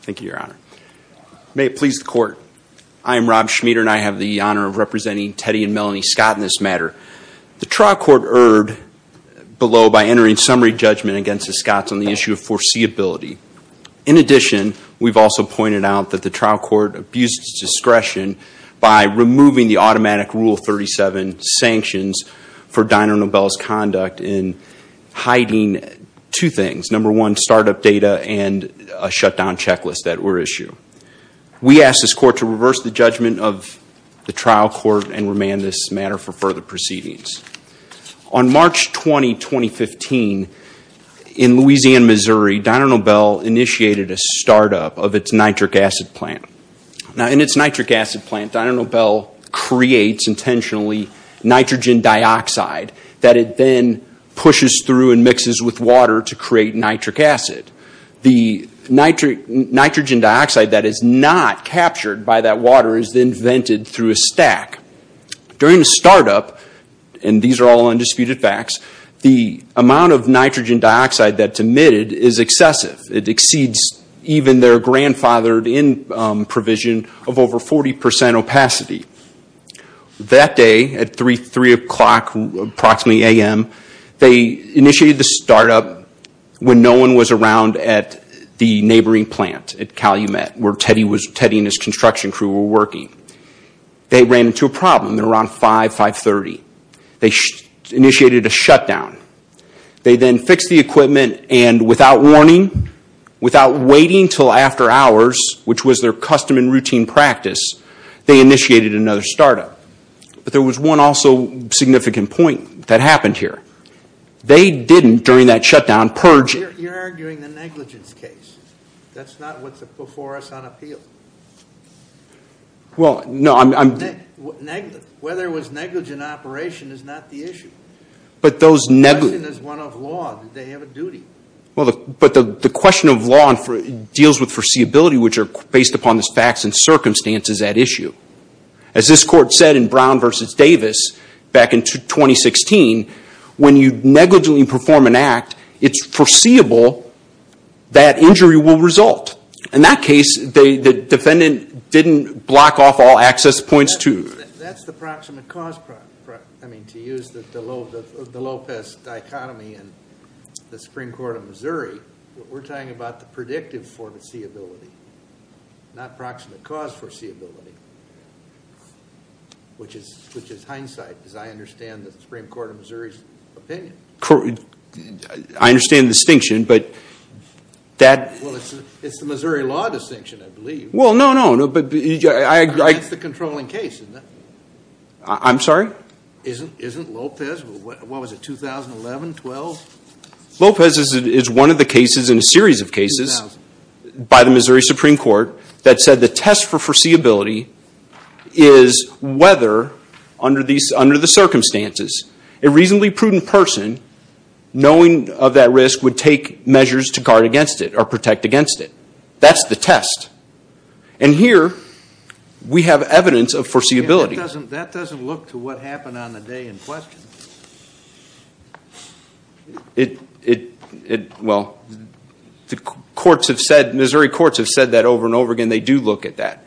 Thank you, Your Honor. May it please the Court, I am Rob Schmieder and I have the honor of representing Teddy and Melanie Scott in this matter. The trial court erred below by entering summary judgment against the Scotts on the issue of foreseeability. In addition, we've also pointed out that the trial court abused its discretion by removing the automatic Rule 37 sanctions for Dyno Nobel's conduct in hiding two things. Number one, startup data and a shutdown checklist that were issued. We ask this Court to reverse the judgment of the trial court and remand this matter for further proceedings. On March 20, 2015, in Louisiana, Missouri, Dyno Nobel initiated a startup of its nitric acid plant. Now, in its nitric acid plant, Dyno Nobel creates intentionally nitrogen dioxide that it then pushes through and mixes with water to create nitric acid. The nitrogen dioxide that is not captured by that water is then vented through a stack. During the startup, and these are all undisputed facts, the amount of nitrogen dioxide that's emitted is excessive. It exceeds even their grandfathered in provision of over 40 percent opacity. That day, at 3 o'clock approximately a.m., they initiated the startup when no one was around at the neighboring plant at Calumet, where Teddy and his construction crew were working. They ran into a problem at around 5, 5.30. They initiated a shutdown. They then fixed the equipment and without warning, without waiting until after hours, which was their custom and routine practice, they initiated another startup. But there was one also significant point that happened here. They didn't, during that shutdown, purge... You're arguing the negligence case. That's not what's before us on appeal. Well, no, I'm... Whether it was negligent operation is not the issue. But those negligent... The question is one of law. Did they have a duty? But the question of law deals with foreseeability, which are based upon the facts and circumstances at issue. As this court said in Brown v. Davis back in 2016, when you negligently perform an act, it's foreseeable that injury will result. In that case, the defendant didn't block off all access points to... That's the proximate cause. To use the Lopez dichotomy in the Supreme Court of Missouri, we're talking about the predictive form of foreseeability, not proximate cause foreseeability, which is hindsight, as I understand the Supreme Court of Missouri's opinion. I understand the distinction, but that... Well, it's the Missouri law distinction, I believe. Well, no, no. That's the controlling case, isn't it? I'm sorry? Isn't Lopez? What was it, 2011, 12? Lopez is one of the cases in a series of cases by the Missouri Supreme Court that said the test for foreseeability is whether, under the circumstances, a reasonably prudent person, knowing of that risk, would take measures to guard against it or protect against it. That's the test. And here, we have evidence of foreseeability. That doesn't look to what happened on the day in question. Well, the Missouri courts have said that over and over again. They do look at that.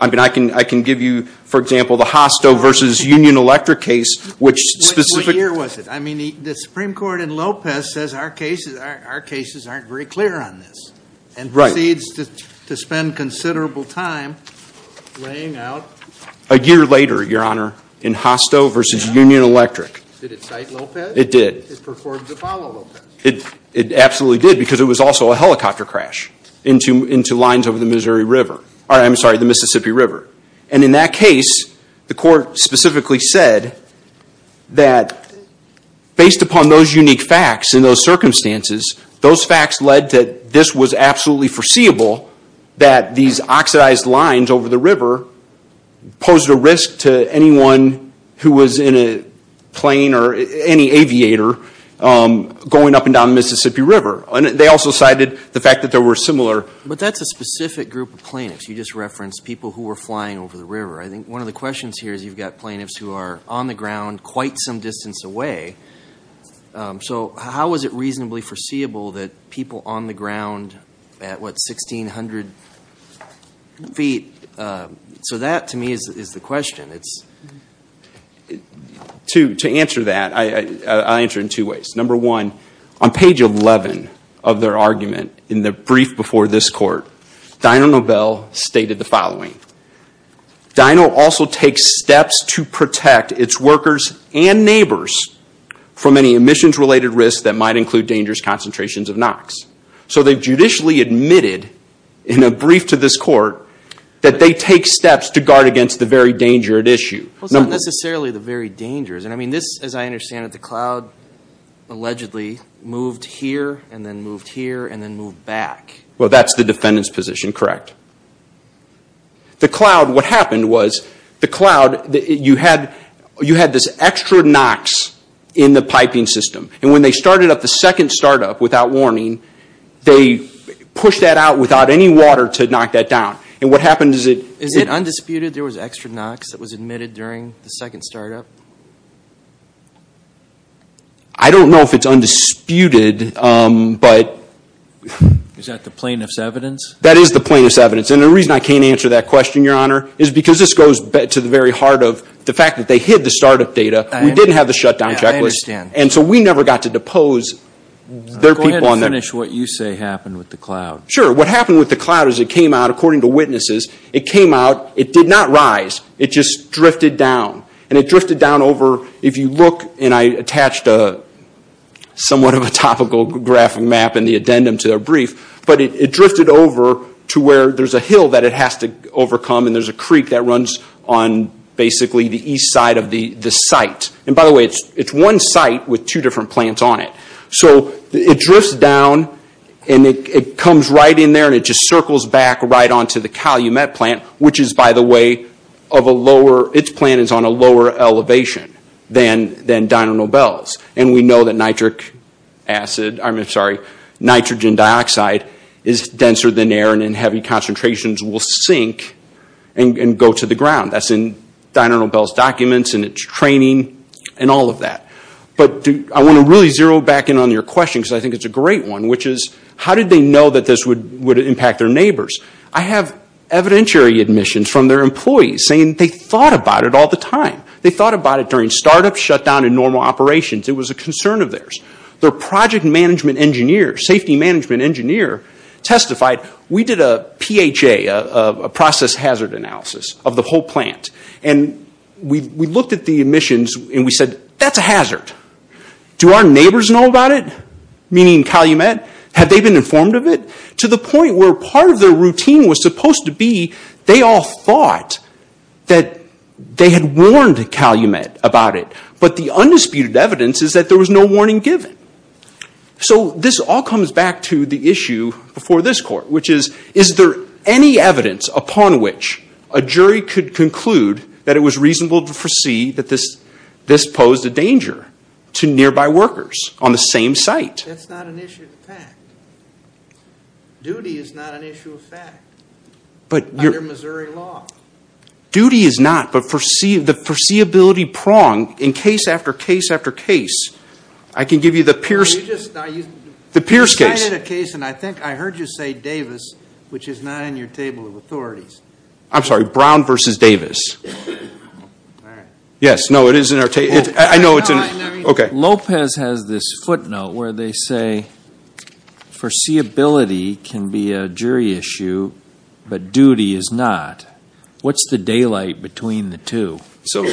I mean, I can give you, for example, the Hosto versus Union Electric case, which specific... What year was it? I mean, the Supreme Court in Lopez says our cases aren't very clear on this, and proceeds to spend considerable time laying out... A year later, Your Honor, in Hosto versus Union Electric. Did it cite Lopez? It did. It performed to follow Lopez. It absolutely did, because it was also a helicopter crash into lines over the Mississippi River. And in that case, the court specifically said that, based upon those unique facts and those circumstances, those facts led to this was absolutely foreseeable, that these oxidized lines over the river posed a risk to anyone who was in a plane or any aviator going up and down the Mississippi River. They also cited the fact that there were similar... But that's a specific group of plaintiffs. You just referenced people who were flying over the river. I think one of the questions here is you've got plaintiffs who are on the ground quite some distance away. So how was it reasonably foreseeable that people on the ground at, what, 1,600 feet? So that, to me, is the question. To answer that, I'll answer it in two ways. Number one, on page 11 of their argument in the brief before this court, Dino Nobel stated the following. Dino also takes steps to protect its workers and neighbors from any emissions-related risks that might include dangerous concentrations of NOx. So they've judicially admitted, in a brief to this court, that they take steps to guard against the very dangerous issue. Well, it's not necessarily the very dangerous. And I mean, this, as I understand it, the cloud allegedly moved here and then moved here and then moved back. Well, that's the defendant's position, correct. The cloud, what happened was, the cloud, you had this extra NOx in the piping system. And when they started up the second startup, without warning, they pushed that out without any water to knock that down. And what happened is it... Is it undisputed there was extra NOx that was admitted during the second startup? I don't know if it's undisputed, but... That is the plaintiff's evidence. And the reason I can't answer that question, Your Honor, is because this goes to the very heart of the fact that they hid the startup data. We didn't have the shutdown checklist. And so we never got to depose their people on that. Go ahead and finish what you say happened with the cloud. Sure. What happened with the cloud is it came out, according to witnesses, it came out, it did not rise. It just drifted down. And it drifted down over, if you look, and I attached a somewhat of a topical graphic map and the addendum to their brief, but it drifted over to where there's a hill that it has to overcome. And there's a creek that runs on basically the east side of the site. And by the way, it's one site with two different plants on it. So it drifts down, and it comes right in there, and it just circles back right onto the Calumet plant, which is, by the way, of a lower... Its plant is on a lower elevation than Diner Nobel's. And we know that nitrogen dioxide is denser than air, and in heavy concentrations will sink and go to the ground. That's in Diner Nobel's documents and its training and all of that. But I want to really zero back in on your question, because I think it's a great one, which is, how did they know that this would impact their neighbors? I have evidentiary admissions from their employees saying they thought about it all the time. They thought about it during startup shutdown and normal operations. It was a concern of theirs. Their project management engineer, safety management engineer testified, we did a PHA, a process hazard analysis of the whole plant. And we looked at the admissions, and we said, that's a hazard. Do our neighbors know about it? Meaning Calumet? Had they been informed of it? To the point where part of their routine was supposed to be, they all thought that they had warned Calumet about it. But the undisputed evidence is that there was no warning given. So this all comes back to the issue before this court, which is, is there any evidence upon which a jury could conclude that it was reasonable to foresee that this posed a danger to nearby workers on the same site? That's not an issue of fact. Duty is not an issue of fact under Missouri law. Duty is not, but the foreseeability prong case after case after case. I can give you the Pierce case. You just cited a case, and I think I heard you say Davis, which is not in your table of authorities. I'm sorry, Brown versus Davis. Yes, no, it is in our table. I know it's in, okay. Lopez has this footnote where they say, foreseeability can be a jury issue, but duty is not. What's the daylight between the two? So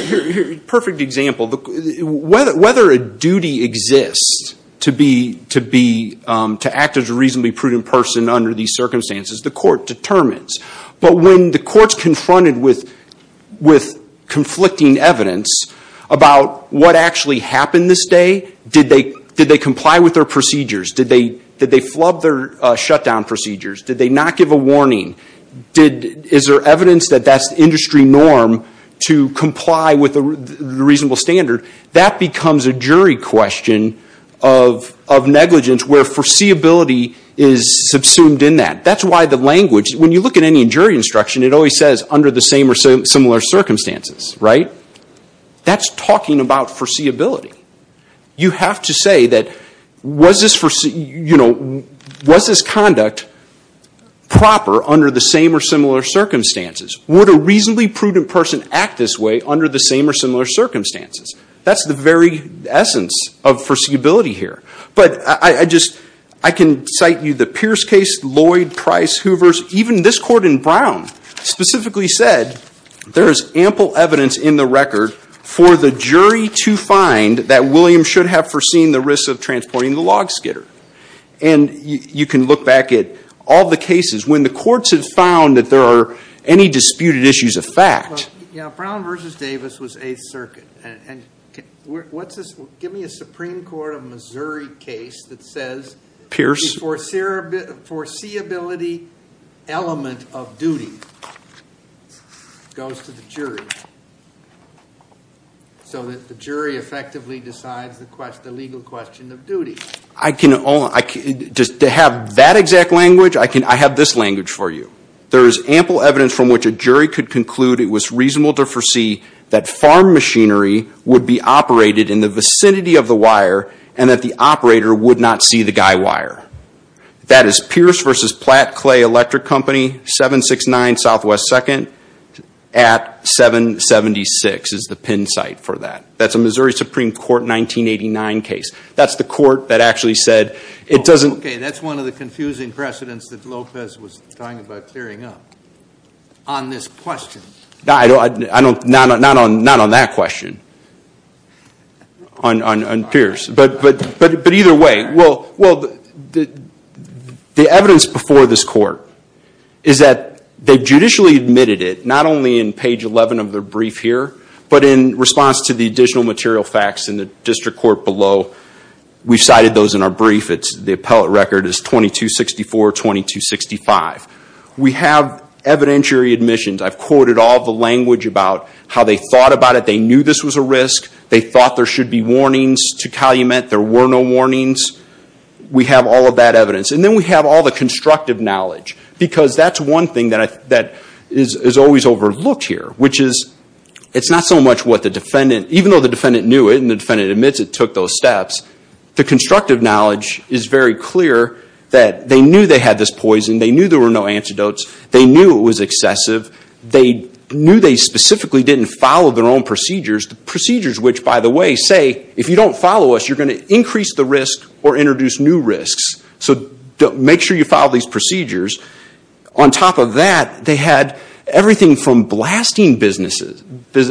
perfect example. Whether a duty exists to act as a reasonably prudent person under these circumstances, the court determines. But when the court's confronted with conflicting evidence about what actually happened this day, did they comply with their procedures? Did they flub their shutdown procedures? Did they not give a warning? Is there evidence that that's industry norm to comply with the reasonable standard? That becomes a jury question of negligence where foreseeability is subsumed in that. That's why the language, when you look at any jury instruction, it always says under the same or similar circumstances, right? That's talking about foreseeability. You have to say that was this conduct proper under the same or similar circumstances? Would a reasonably prudent person act this way under the same or similar circumstances? That's the very essence of foreseeability here. But I just, I can cite you the Pierce case, Lloyd, Price, Hoovers, even this court in Brown specifically said there is ample evidence in the record for the jury to find that William should have foreseen the risks of transporting the log skidder. And you can look back at all the cases when the courts have found that there are any disputed issues of fact. Well, yeah, Brown versus Davis was Eighth Circuit. And what's this, give me a Supreme Court of Missouri case that says the foreseeability element of duty goes to the jury. So that the jury effectively decides the legal question of duty. I can, just to have that exact language, I have this language for you. There is ample evidence from which a jury could conclude it was reasonable to foresee that farm machinery would be operated in the vicinity of the wire and that the operator would not see the guy wire. That is Pierce versus Platt Clay Electric Company, 769 Southwest 2nd at 776 is the pin site for that. That's a Missouri Supreme Court 1989 case. That's the court that actually said it doesn't. That's one of the confusing precedents that Lopez was talking about clearing up on this question. Not on that question, on Pierce, but either way. Well, the evidence before this court is that they judicially admitted it, not only in page 11 of the brief here, but in response to the additional material facts in the district court below. We've cited those in our brief. The appellate record is 2264, 2265. We have evidentiary admissions. I've quoted all the language about how they thought about it. They knew this was a risk. They thought there should be warnings to calumet. There were no warnings. We have all of that evidence. And then we have all the constructive knowledge because that's one thing that is always overlooked here, which is it's not so much what the defendant, even though the defendant knew it and the defendant admits it took those steps, the constructive knowledge is very clear that they knew they had this poison. They knew there were no antidotes. They knew it was excessive. They knew they specifically didn't follow their own procedures. The procedures which, by the way, say, if you don't follow us, you're going to increase the risk or introduce new risks. So make sure you follow these procedures. On top of that, they had everything from blasting businesses. They've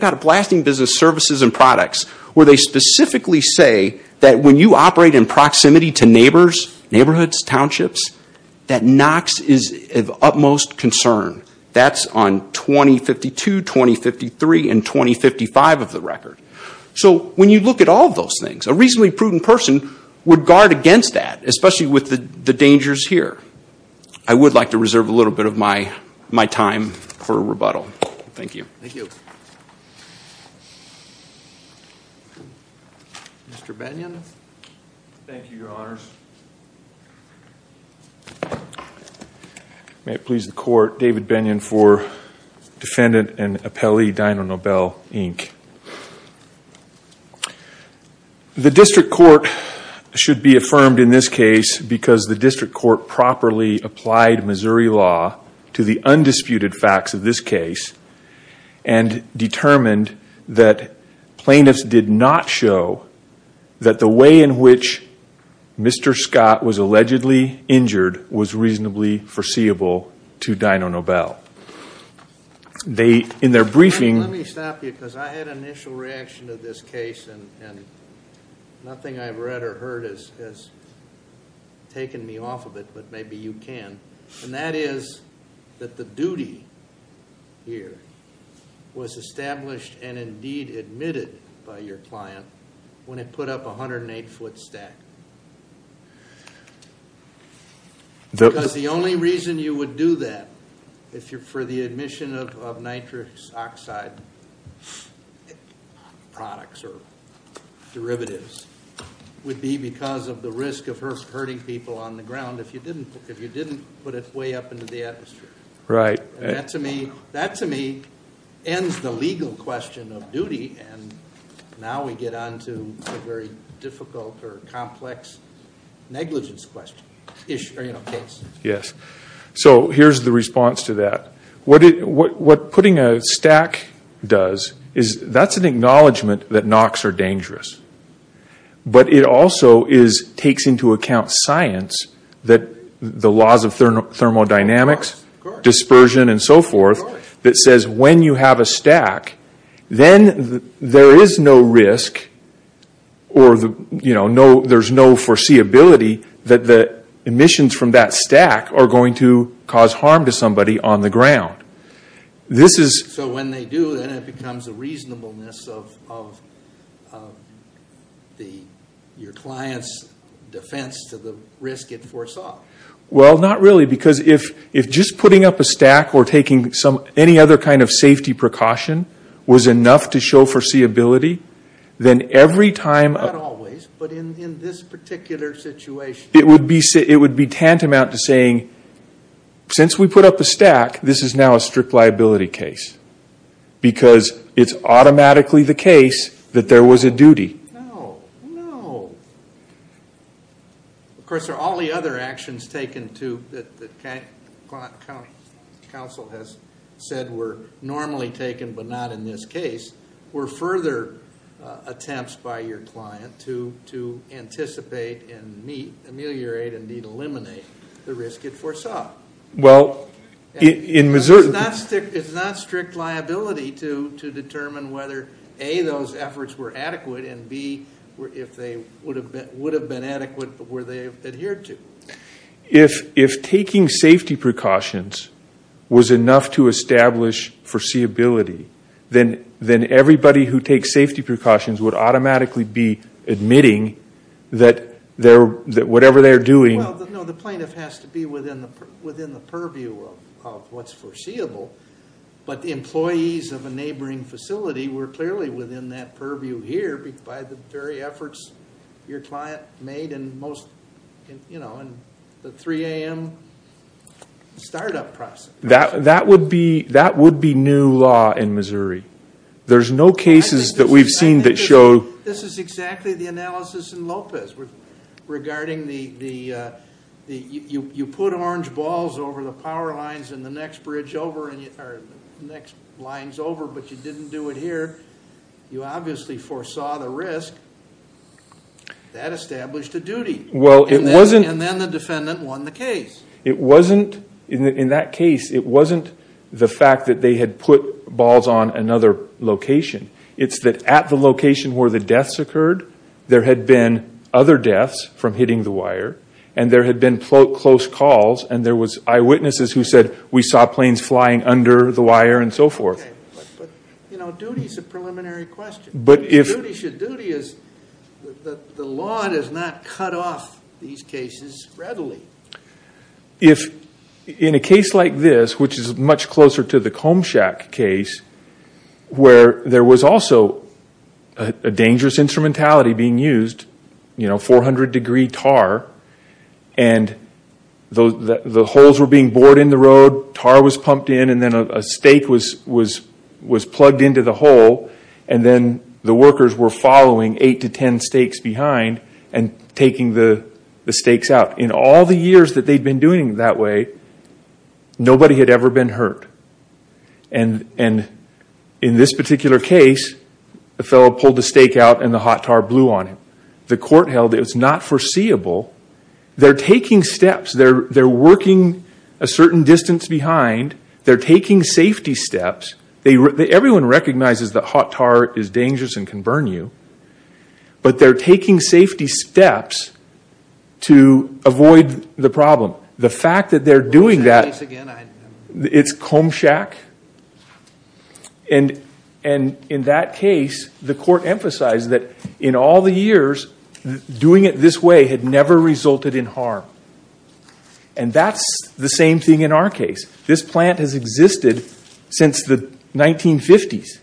got a blasting business services and products where they specifically say that when you operate in proximity to neighbors, neighborhoods, townships, that knocks is of utmost concern. That's on 2052, 2053, and 2055 of the record. So when you look at all of those things, a reasonably prudent person would guard against that, especially with the dangers here. I would like to reserve a little bit of my time for rebuttal. Thank you. Thank you. Mr. Bennion. Thank you, your honors. May it please the court, David Bennion for defendant and appellee Dinah Nobel, Inc. The district court should be affirmed in this case because the district court properly applied Missouri law to the undisputed facts of this case and determined that plaintiffs did not show that the way in which Mr. Scott was allegedly injured was reasonably foreseeable to Dinah Nobel. In their briefing... Let me stop you because I had an initial reaction to this case and nothing I've read or heard has taken me off of it, but maybe you can. And that is that the duty here was established and indeed admitted by your client when it put up a 108-foot stack. Because the only reason you would do that if you're for the admission of nitrous oxide products or derivatives would be because of the risk of hurting people on the ground. If you didn't put it way up into the atmosphere. Right. And that to me ends the legal question of duty and now we get on to a very difficult or complex negligence question or case. Yes. So here's the response to that. What putting a stack does is that's an acknowledgement that NOx are dangerous, but it also takes into account science that the laws of thermodynamics, dispersion and so forth that says when you have a stack, then there is no risk or there's no foreseeability that the emissions from that stack are going to cause harm to somebody on the ground. So when they do, then it becomes a reasonableness of your client's defense to the risk it foresaw. Well, not really because if just putting up a stack or taking any other kind of safety precaution was enough to show foreseeability, then every time... Not always, but in this particular situation... It would be tantamount to saying, since we put up a stack, this is now a strict liability case because it's automatically the case that there was a duty. No, no. Of course, there are all the other actions taken too that the council has said were normally taken, but not in this case, were further attempts by your client to anticipate and ameliorate and eliminate the risk it foresaw. Well, in Missouri... It's not strict liability to determine whether A, those efforts were adequate and B, if they would have been adequate, were they adhered to. If taking safety precautions was enough to establish foreseeability, then everybody who takes safety precautions would automatically be admitting that whatever they're doing... Well, no, the plaintiff has to be within the purview of what's foreseeable, but the employees of a neighboring facility were clearly within that purview here by the very efforts your client made in the 3 a.m. startup process. That would be new law in Missouri. There's no cases that we've seen that show... This is exactly the analysis in Lopez regarding the... The next bridge over or the next lines over, but you didn't do it here. You obviously foresaw the risk. That established a duty. Well, it wasn't... And then the defendant won the case. It wasn't... In that case, it wasn't the fact that they had put balls on another location. It's that at the location where the deaths occurred, there had been other deaths from hitting the wire and there had been close calls and there was eyewitnesses who said, we saw planes flying under the wire and so forth. Okay, but duty is a preliminary question. But if... Duty should... Duty is... The law does not cut off these cases readily. If in a case like this, which is much closer to the Combshack case, where there was also a dangerous instrumentality being used, 400 degree tar, and the holes were being bored in the road, tar was pumped in, and then a stake was plugged into the hole, and then the workers were following eight to 10 stakes behind and taking the stakes out. In all the years that they'd been doing that way, nobody had ever been hurt. And in this particular case, the fellow pulled the stake out and the hot tar blew on him. The court held it was not foreseeable they're taking steps, they're working a certain distance behind, they're taking safety steps. Everyone recognizes that hot tar is dangerous and can burn you, but they're taking safety steps to avoid the problem. The fact that they're doing that... Say that again, I... It's Combshack. And in that case, the court emphasized that in all the years, doing it this way had never resulted in harm. And that's the same thing in our case. This plant has existed since the 1950s.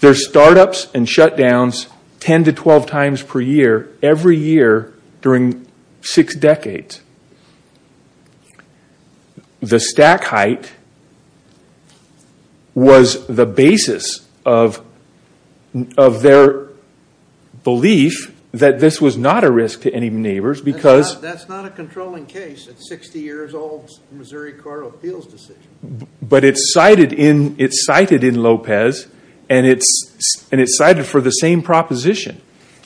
There's startups and shutdowns 10 to 12 times per year every year during six decades. The stack height was the basis of their belief that this was not a risk to any neighbors because... That's not a controlling case. It's 60 years old Missouri Court of Appeals decision. But it's cited in Lopez and it's cited for the same proposition.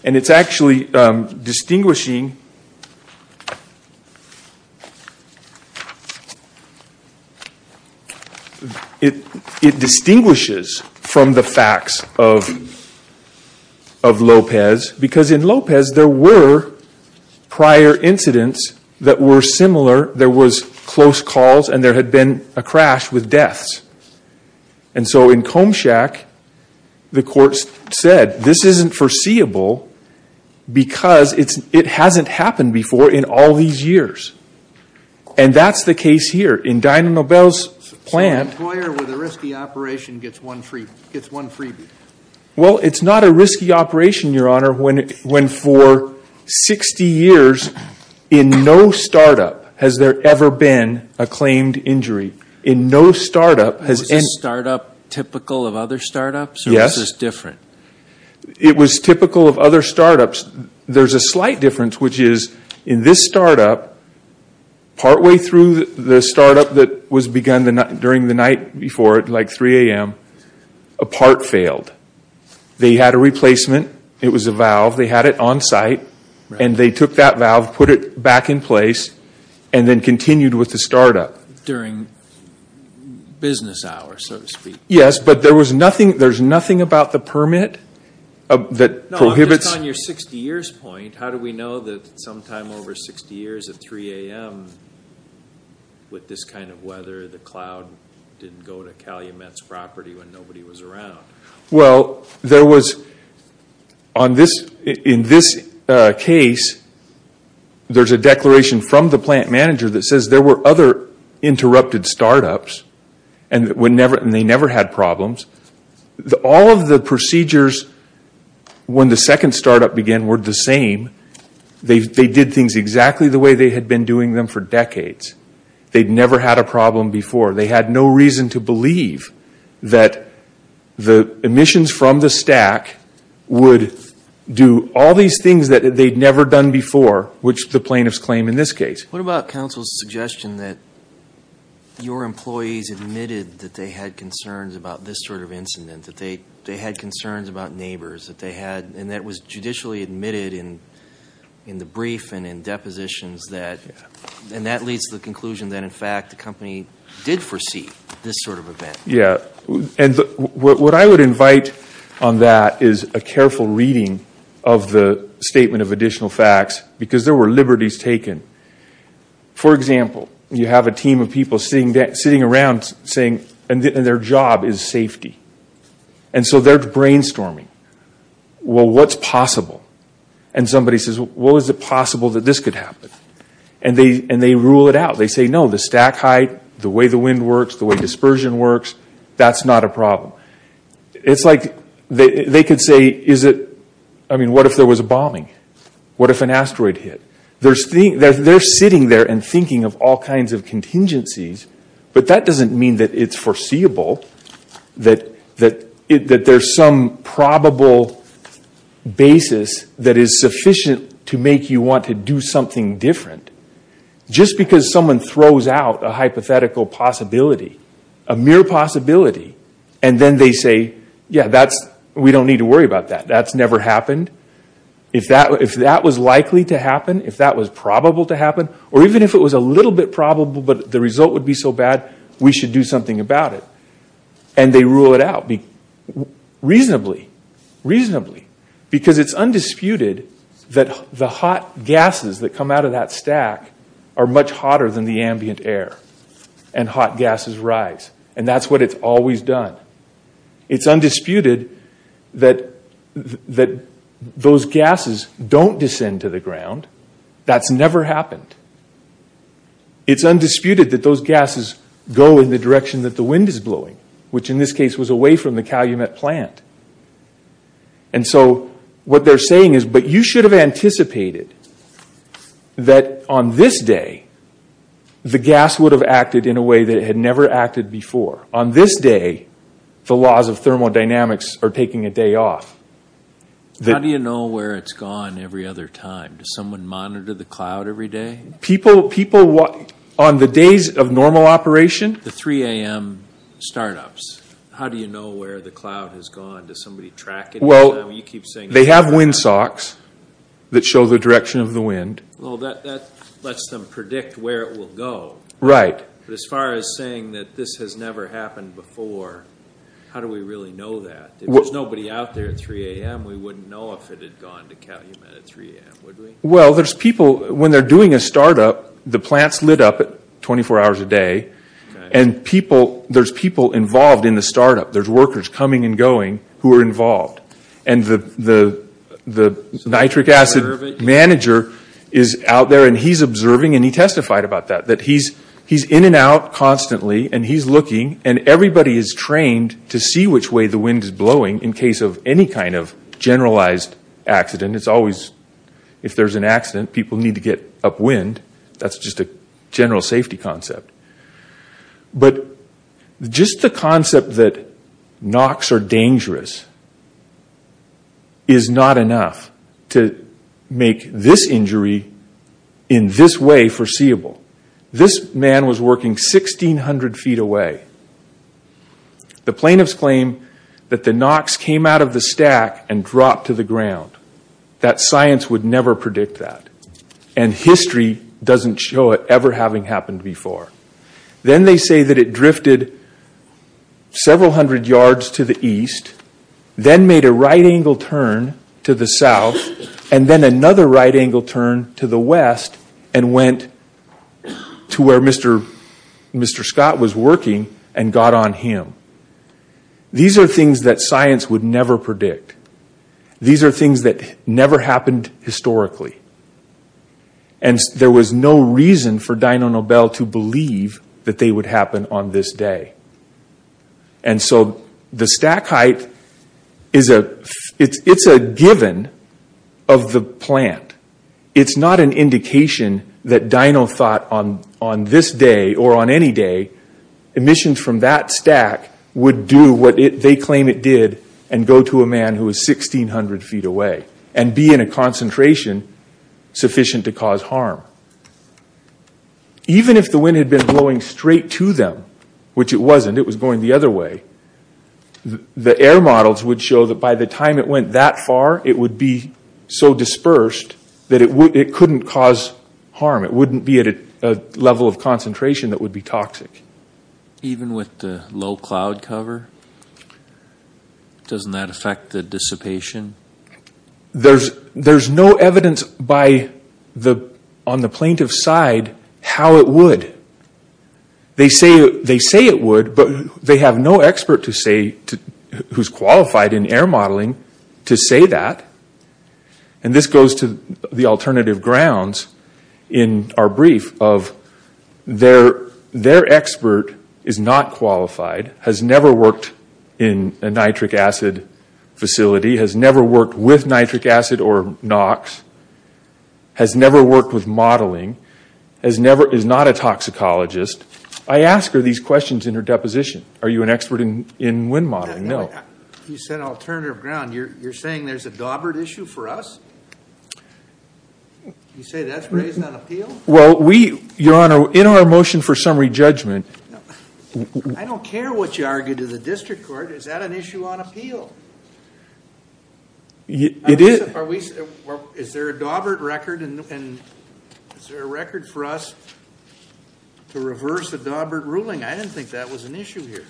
And it's actually distinguishing... It distinguishes from the facts of Lopez because in Lopez, there were prior incidents that were similar. There was close calls and there had been a crash with deaths. And so in Combshack, the courts said this isn't foreseeable because it hasn't happened before in all these years. And that's the case here in Dinah-Nobel's plant. An employer with a risky operation gets one freebie. Well, it's not a risky operation, when for 60 years, in no startup has there ever been a claimed injury. In no startup... Was the startup typical of other startups? Yes. Or was this different? It was typical of other startups. There's a slight difference, which is in this startup, partway through the startup that was begun during the night before at like 3 a.m., a part failed. They had a replacement. It was a valve. They had it on site and they took that valve, put it back in place, and then continued with the startup. During business hours, so to speak. Yes, but there was nothing... There's nothing about the permit that prohibits... On your 60 years point, how do we know that sometime over 60 years at 3 a.m., with this kind of weather, the cloud didn't go to Calumet's property when nobody was around? Well, there was... In this case, there's a declaration from the plant manager that says there were other interrupted startups and they never had problems. All of the procedures when the second startup began were the same. They did things exactly the way they had been doing them for decades. They'd never had a problem before. They had no reason to believe that the emissions from the stack would do all these things that they'd never done before, which the plaintiffs claim in this case. What about counsel's suggestion that your employees admitted that they had concerns about this sort of incident, that they had concerns about neighbors, that they had... And that was judicially admitted in the brief and in depositions that... And that leads to the conclusion that, in fact, the company did foresee this sort of event. And what I would invite on that is a careful reading of the statement of additional facts because there were liberties taken. For example, you have a team of people sitting around saying... And their job is safety. And so they're brainstorming. Well, what's possible? And somebody says, well, is it possible that this could happen? And they rule it out. They say, no, the stack height, the way the wind works, the way dispersion works, that's not a problem. It's like they could say, is it... I mean, what if there was a bombing? What if an asteroid hit? They're sitting there and thinking of all kinds of contingencies, but that doesn't mean that it's foreseeable, that there's some probable basis that is sufficient to make you want to do something different. Just because someone throws out a hypothetical possibility, a mere possibility, and then they say, yeah, we don't need to worry about that. That's never happened. If that was likely to happen, if that was probable to happen, or even if it was a little bit probable, but the result would be so bad, we should do something about it. And they rule it out reasonably. Reasonably. Because it's undisputed that the hot gases that come out of that stack are much hotter than the ambient air, and hot gases rise. And that's what it's always done. It's undisputed that those gases don't descend to the ground. That's never happened. It's undisputed that those gases go in the direction that the wind is blowing, which in this case was away from the Calumet plant. And so what they're saying is, but you should have anticipated that on this day, the gas would have acted in a way that it had never acted before. On this day, the laws of thermodynamics are taking a day off. How do you know where it's gone every other time? Does someone monitor the cloud every day? People, on the days of normal operation? The 3 a.m. startups. How do you know where the cloud has gone? Does somebody track it? Well, they have windsocks that show the direction of the wind. Well, that lets them predict where it will go. Right. But as far as saying that this has never happened before, how do we really know that? If there's nobody out there at 3 a.m., we wouldn't know if it had gone to Calumet at 3 a.m., would we? Well, there's people, when they're doing a startup, the plant's lit up 24 hours a day, and there's people involved in the startup. There's workers coming and going who are involved. And the nitric acid manager is out there, and he's observing, and he testified about that, that he's in and out constantly, and he's looking, and everybody is trained to see which way the wind is blowing in case of any kind of generalized accident. It's always, if there's an accident, people need to get upwind. That's just a general safety concept. But just the concept that knocks are dangerous is not enough to make this injury in this way foreseeable. This man was working 1,600 feet away. The plaintiffs claim that the knocks came out of the stack and dropped to the ground. That science would never predict that. And history doesn't show it ever having happened before. Then made a right-angle turn to the south, and then another right-angle turn to the west, and went to where Mr. Scott was working and got on him. These are things that science would never predict. These are things that never happened historically. And there was no reason for Dino Nobel to believe that they would happen on this day. And so the stack height, it's a given of the plant. It's not an indication that Dino thought on this day or on any day, emissions from that stack would do what they claim it did and go to a man who was 1,600 feet away and be in a concentration sufficient to cause harm. Even if the wind had been blowing straight to them, which it wasn't, it was going the other way, the air models would show that by the time it went that far, it would be so dispersed that it couldn't cause harm. It wouldn't be at a level of concentration that would be toxic. Even with the low cloud cover, doesn't that affect the dissipation? There's no evidence on the plaintiff's side how it would. They say it would, but they have no expert who's qualified in air modeling to say that. And this goes to the alternative grounds in our brief of their expert is not qualified, has never worked in a nitric acid facility, has never worked with nitric acid or NOx, has never worked with modeling, has never, is not a toxicologist. I ask her these questions in her deposition. Are you an expert in wind modeling? No. You said alternative ground. You're saying there's a Dawbert issue for us? You say that's raised on appeal? Well, we, Your Honor, in our motion for summary judgment. I don't care what you argue to the district court. Is that an issue on appeal? It is. Is there a Dawbert record? Is there a record for us to reverse the Dawbert ruling? I didn't think that was an issue here.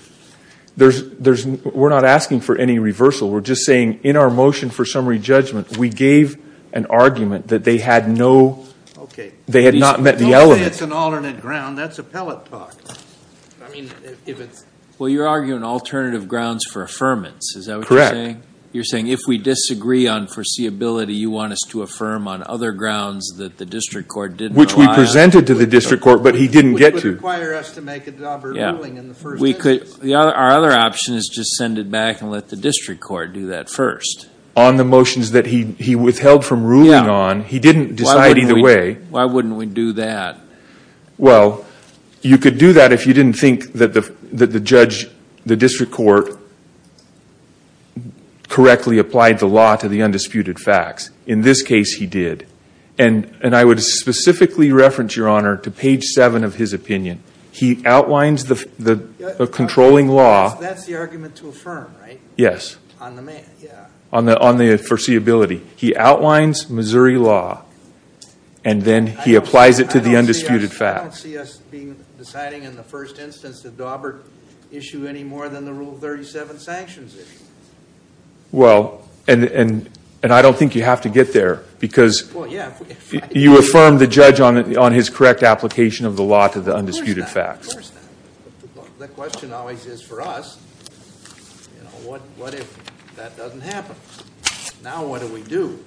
We're not asking for any reversal. We're just saying in our motion for summary judgment, we gave an argument that they had no, they had not met the element. Don't say it's an alternate ground. That's appellate talk. Well, you're arguing alternative grounds for affirmance. Is that what you're saying? You're saying if we disagree on foreseeability, you want us to affirm on other grounds that the district court didn't allow us? Which we presented to the district court, but he didn't get to. Which would require us to make a Dawbert ruling in the first instance. Our other option is just send it back and let the district court do that first. On the motions that he withheld from ruling on, he didn't decide either way. Why wouldn't we do that? Well, you could do that if you didn't think that the judge, the district court, correctly applied the law to the undisputed facts. In this case, he did. And I would specifically reference, Your Honor, to page seven of his opinion. He outlines the controlling law. That's the argument to affirm, right? Yes. On the foreseeability. He outlines Missouri law and then he applies it to the undisputed facts. I don't see us being deciding in the first instance a Dawbert issue any more than the Rule 37 sanctions issue. Well, and I don't think you have to get there, because you affirm the judge on his correct application of the law to the undisputed facts. Of course not. The question always is for us, what if that doesn't happen? Now what do we do?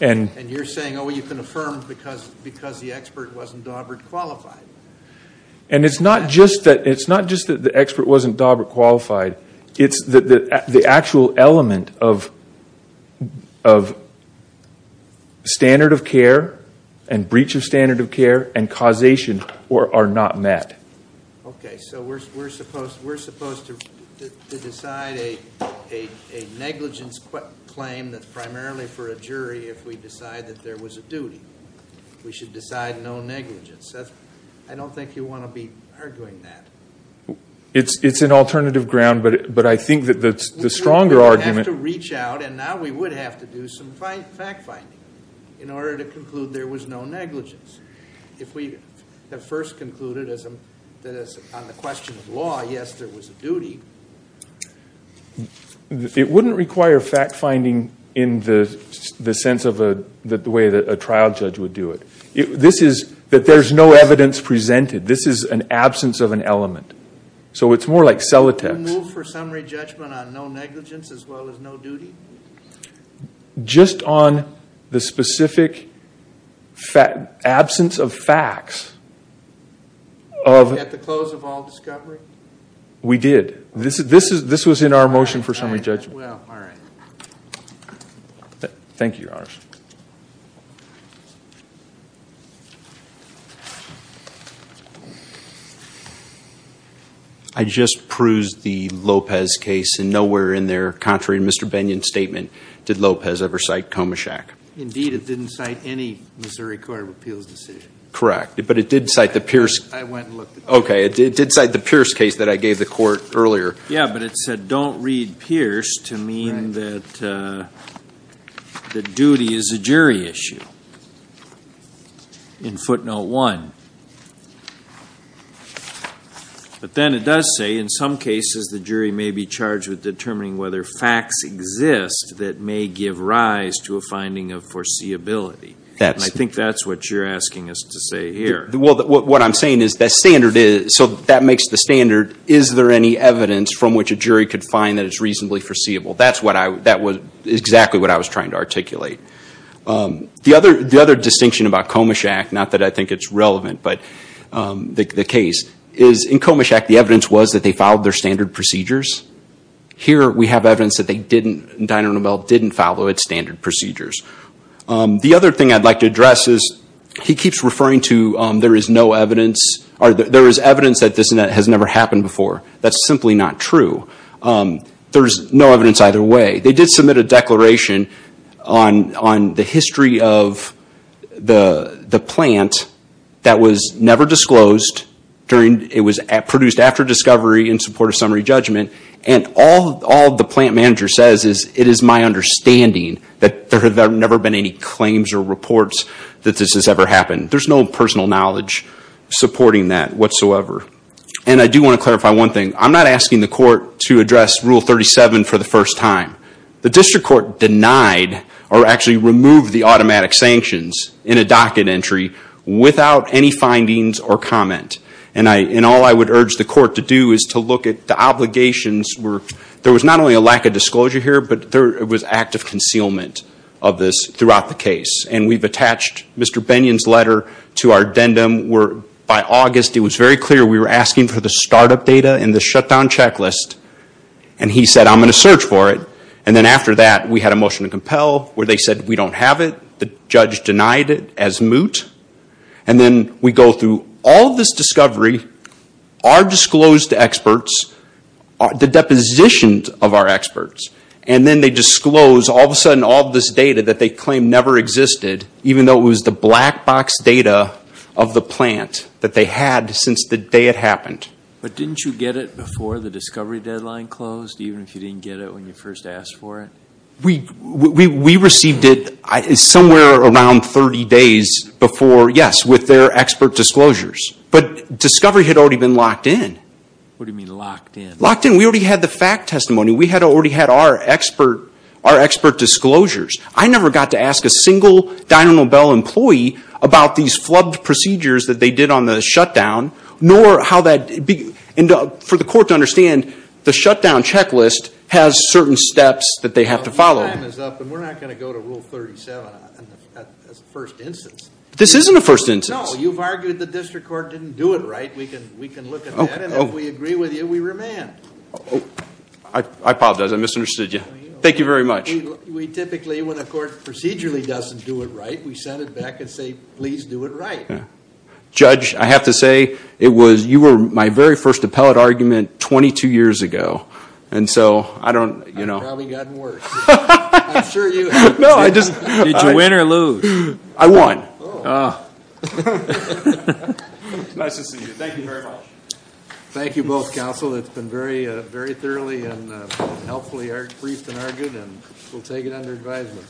And you're saying, oh, you can affirm because the expert wasn't Dawbert qualified. And it's not just that the expert wasn't Dawbert qualified. It's the actual element of standard of care and breach of standard of care and causation are not met. OK. So we're supposed to decide a negligence claim that's primarily for a jury if we decide that there was a duty. We should decide no negligence. I don't think you want to be arguing that. It's an alternative ground, but I think that the stronger argument is that we have to reach out, and now we would have to do some fact-finding in order to conclude there was no negligence. If we had first concluded that on the question of law, yes, there was a duty. It wouldn't require fact-finding in the sense of the way that a trial judge would do it. This is that there's no evidence presented. This is an absence of an element. So it's more like cellotex. You move for summary judgment on no negligence as well as no duty? Just on the specific absence of facts. At the close of all discovery? We did. This was in our motion for summary judgment. Well, all right. Thank you, Your Honors. I just perused the Lopez case, and nowhere in there, contrary to Mr. Bennion's statement, did Lopez ever cite Komaschak. Indeed, it didn't cite any Missouri Court of Appeals decision. Correct. But it did cite the Pierce case that I gave the court earlier. Yeah, but it said don't read Pierce to mean that the duty is a jury issue. In footnote one. But then it does say, in some cases, the jury may be charged with determining whether facts exist that may give rise to a finding of foreseeability. I think that's what you're asking us to say here. Well, what I'm saying is that standard is, so that makes the standard, is there any evidence from which a jury could find that it's reasonably foreseeable? That's exactly what I was trying to articulate. The other distinction about Komaschak, not that I think it's relevant, but the case, is in Komaschak, the evidence was that they followed their standard procedures. Here, we have evidence that they didn't, Dinah and Abel didn't follow its standard procedures. The other thing I'd like to address is he keeps referring to there is no evidence, or there is evidence that this has never happened before. That's simply not true. There's no evidence either way. They did submit a declaration on the history of the plant that was never disclosed during, it was produced after discovery in support of summary judgment, and all the plant manager says is, it is my understanding that there have never been any claims or reports that this has ever happened. There's no personal knowledge supporting that whatsoever. I do want to clarify one thing. I'm not asking the court to address Rule 37 for the first time. The district court denied, or actually removed, the automatic sanctions in a docket entry without any findings or comment. All I would urge the court to do is to look at the obligations. There was not only a lack of disclosure here, but there was active concealment of this throughout the case. We've attached Mr. Bennion's letter to our addendum. By August, it was very clear we were asking for the startup data and the shutdown checklist, and he said, I'm going to search for it, and then after that, we had a motion to compel where they said, we don't have it. The judge denied it as moot, and then we go through all of this discovery, our disclosed experts, the depositions of our experts, and then they disclose all of a sudden all of this data that they claim never existed, even though it was the black box data of the plant that they had since the day it happened. But didn't you get it before the discovery deadline closed, even if you didn't get it when you first asked for it? We received it somewhere around 30 days before, yes, with their expert disclosures, but discovery had already been locked in. What do you mean locked in? Locked in. We already had the fact testimony. We had already had our expert disclosures. I never got to ask a single Dynamo Bell employee about these flubbed procedures that they did on the shutdown, nor how that, and for the court to understand, the shutdown checklist has certain steps that they have to follow. Well, time is up, and we're not going to go to Rule 37 as a first instance. This isn't a first instance. No, you've argued the district court didn't do it right. We can look at that, and if we agree with you, we remand. I apologize. I misunderstood you. Thank you very much. We typically, when a court procedurally doesn't do it right, we send it back and say, please do it right. Judge, I have to say, you were my very first appellate argument 22 years ago, and so I don't, you know. I've probably gotten worse. I'm sure you have. No, I just. Did you win or lose? I won. Nice to see you. Thank you very much. Thank you both, counsel. It's been very, very thoroughly and helpfully briefed and argued, and we'll take it under advisement.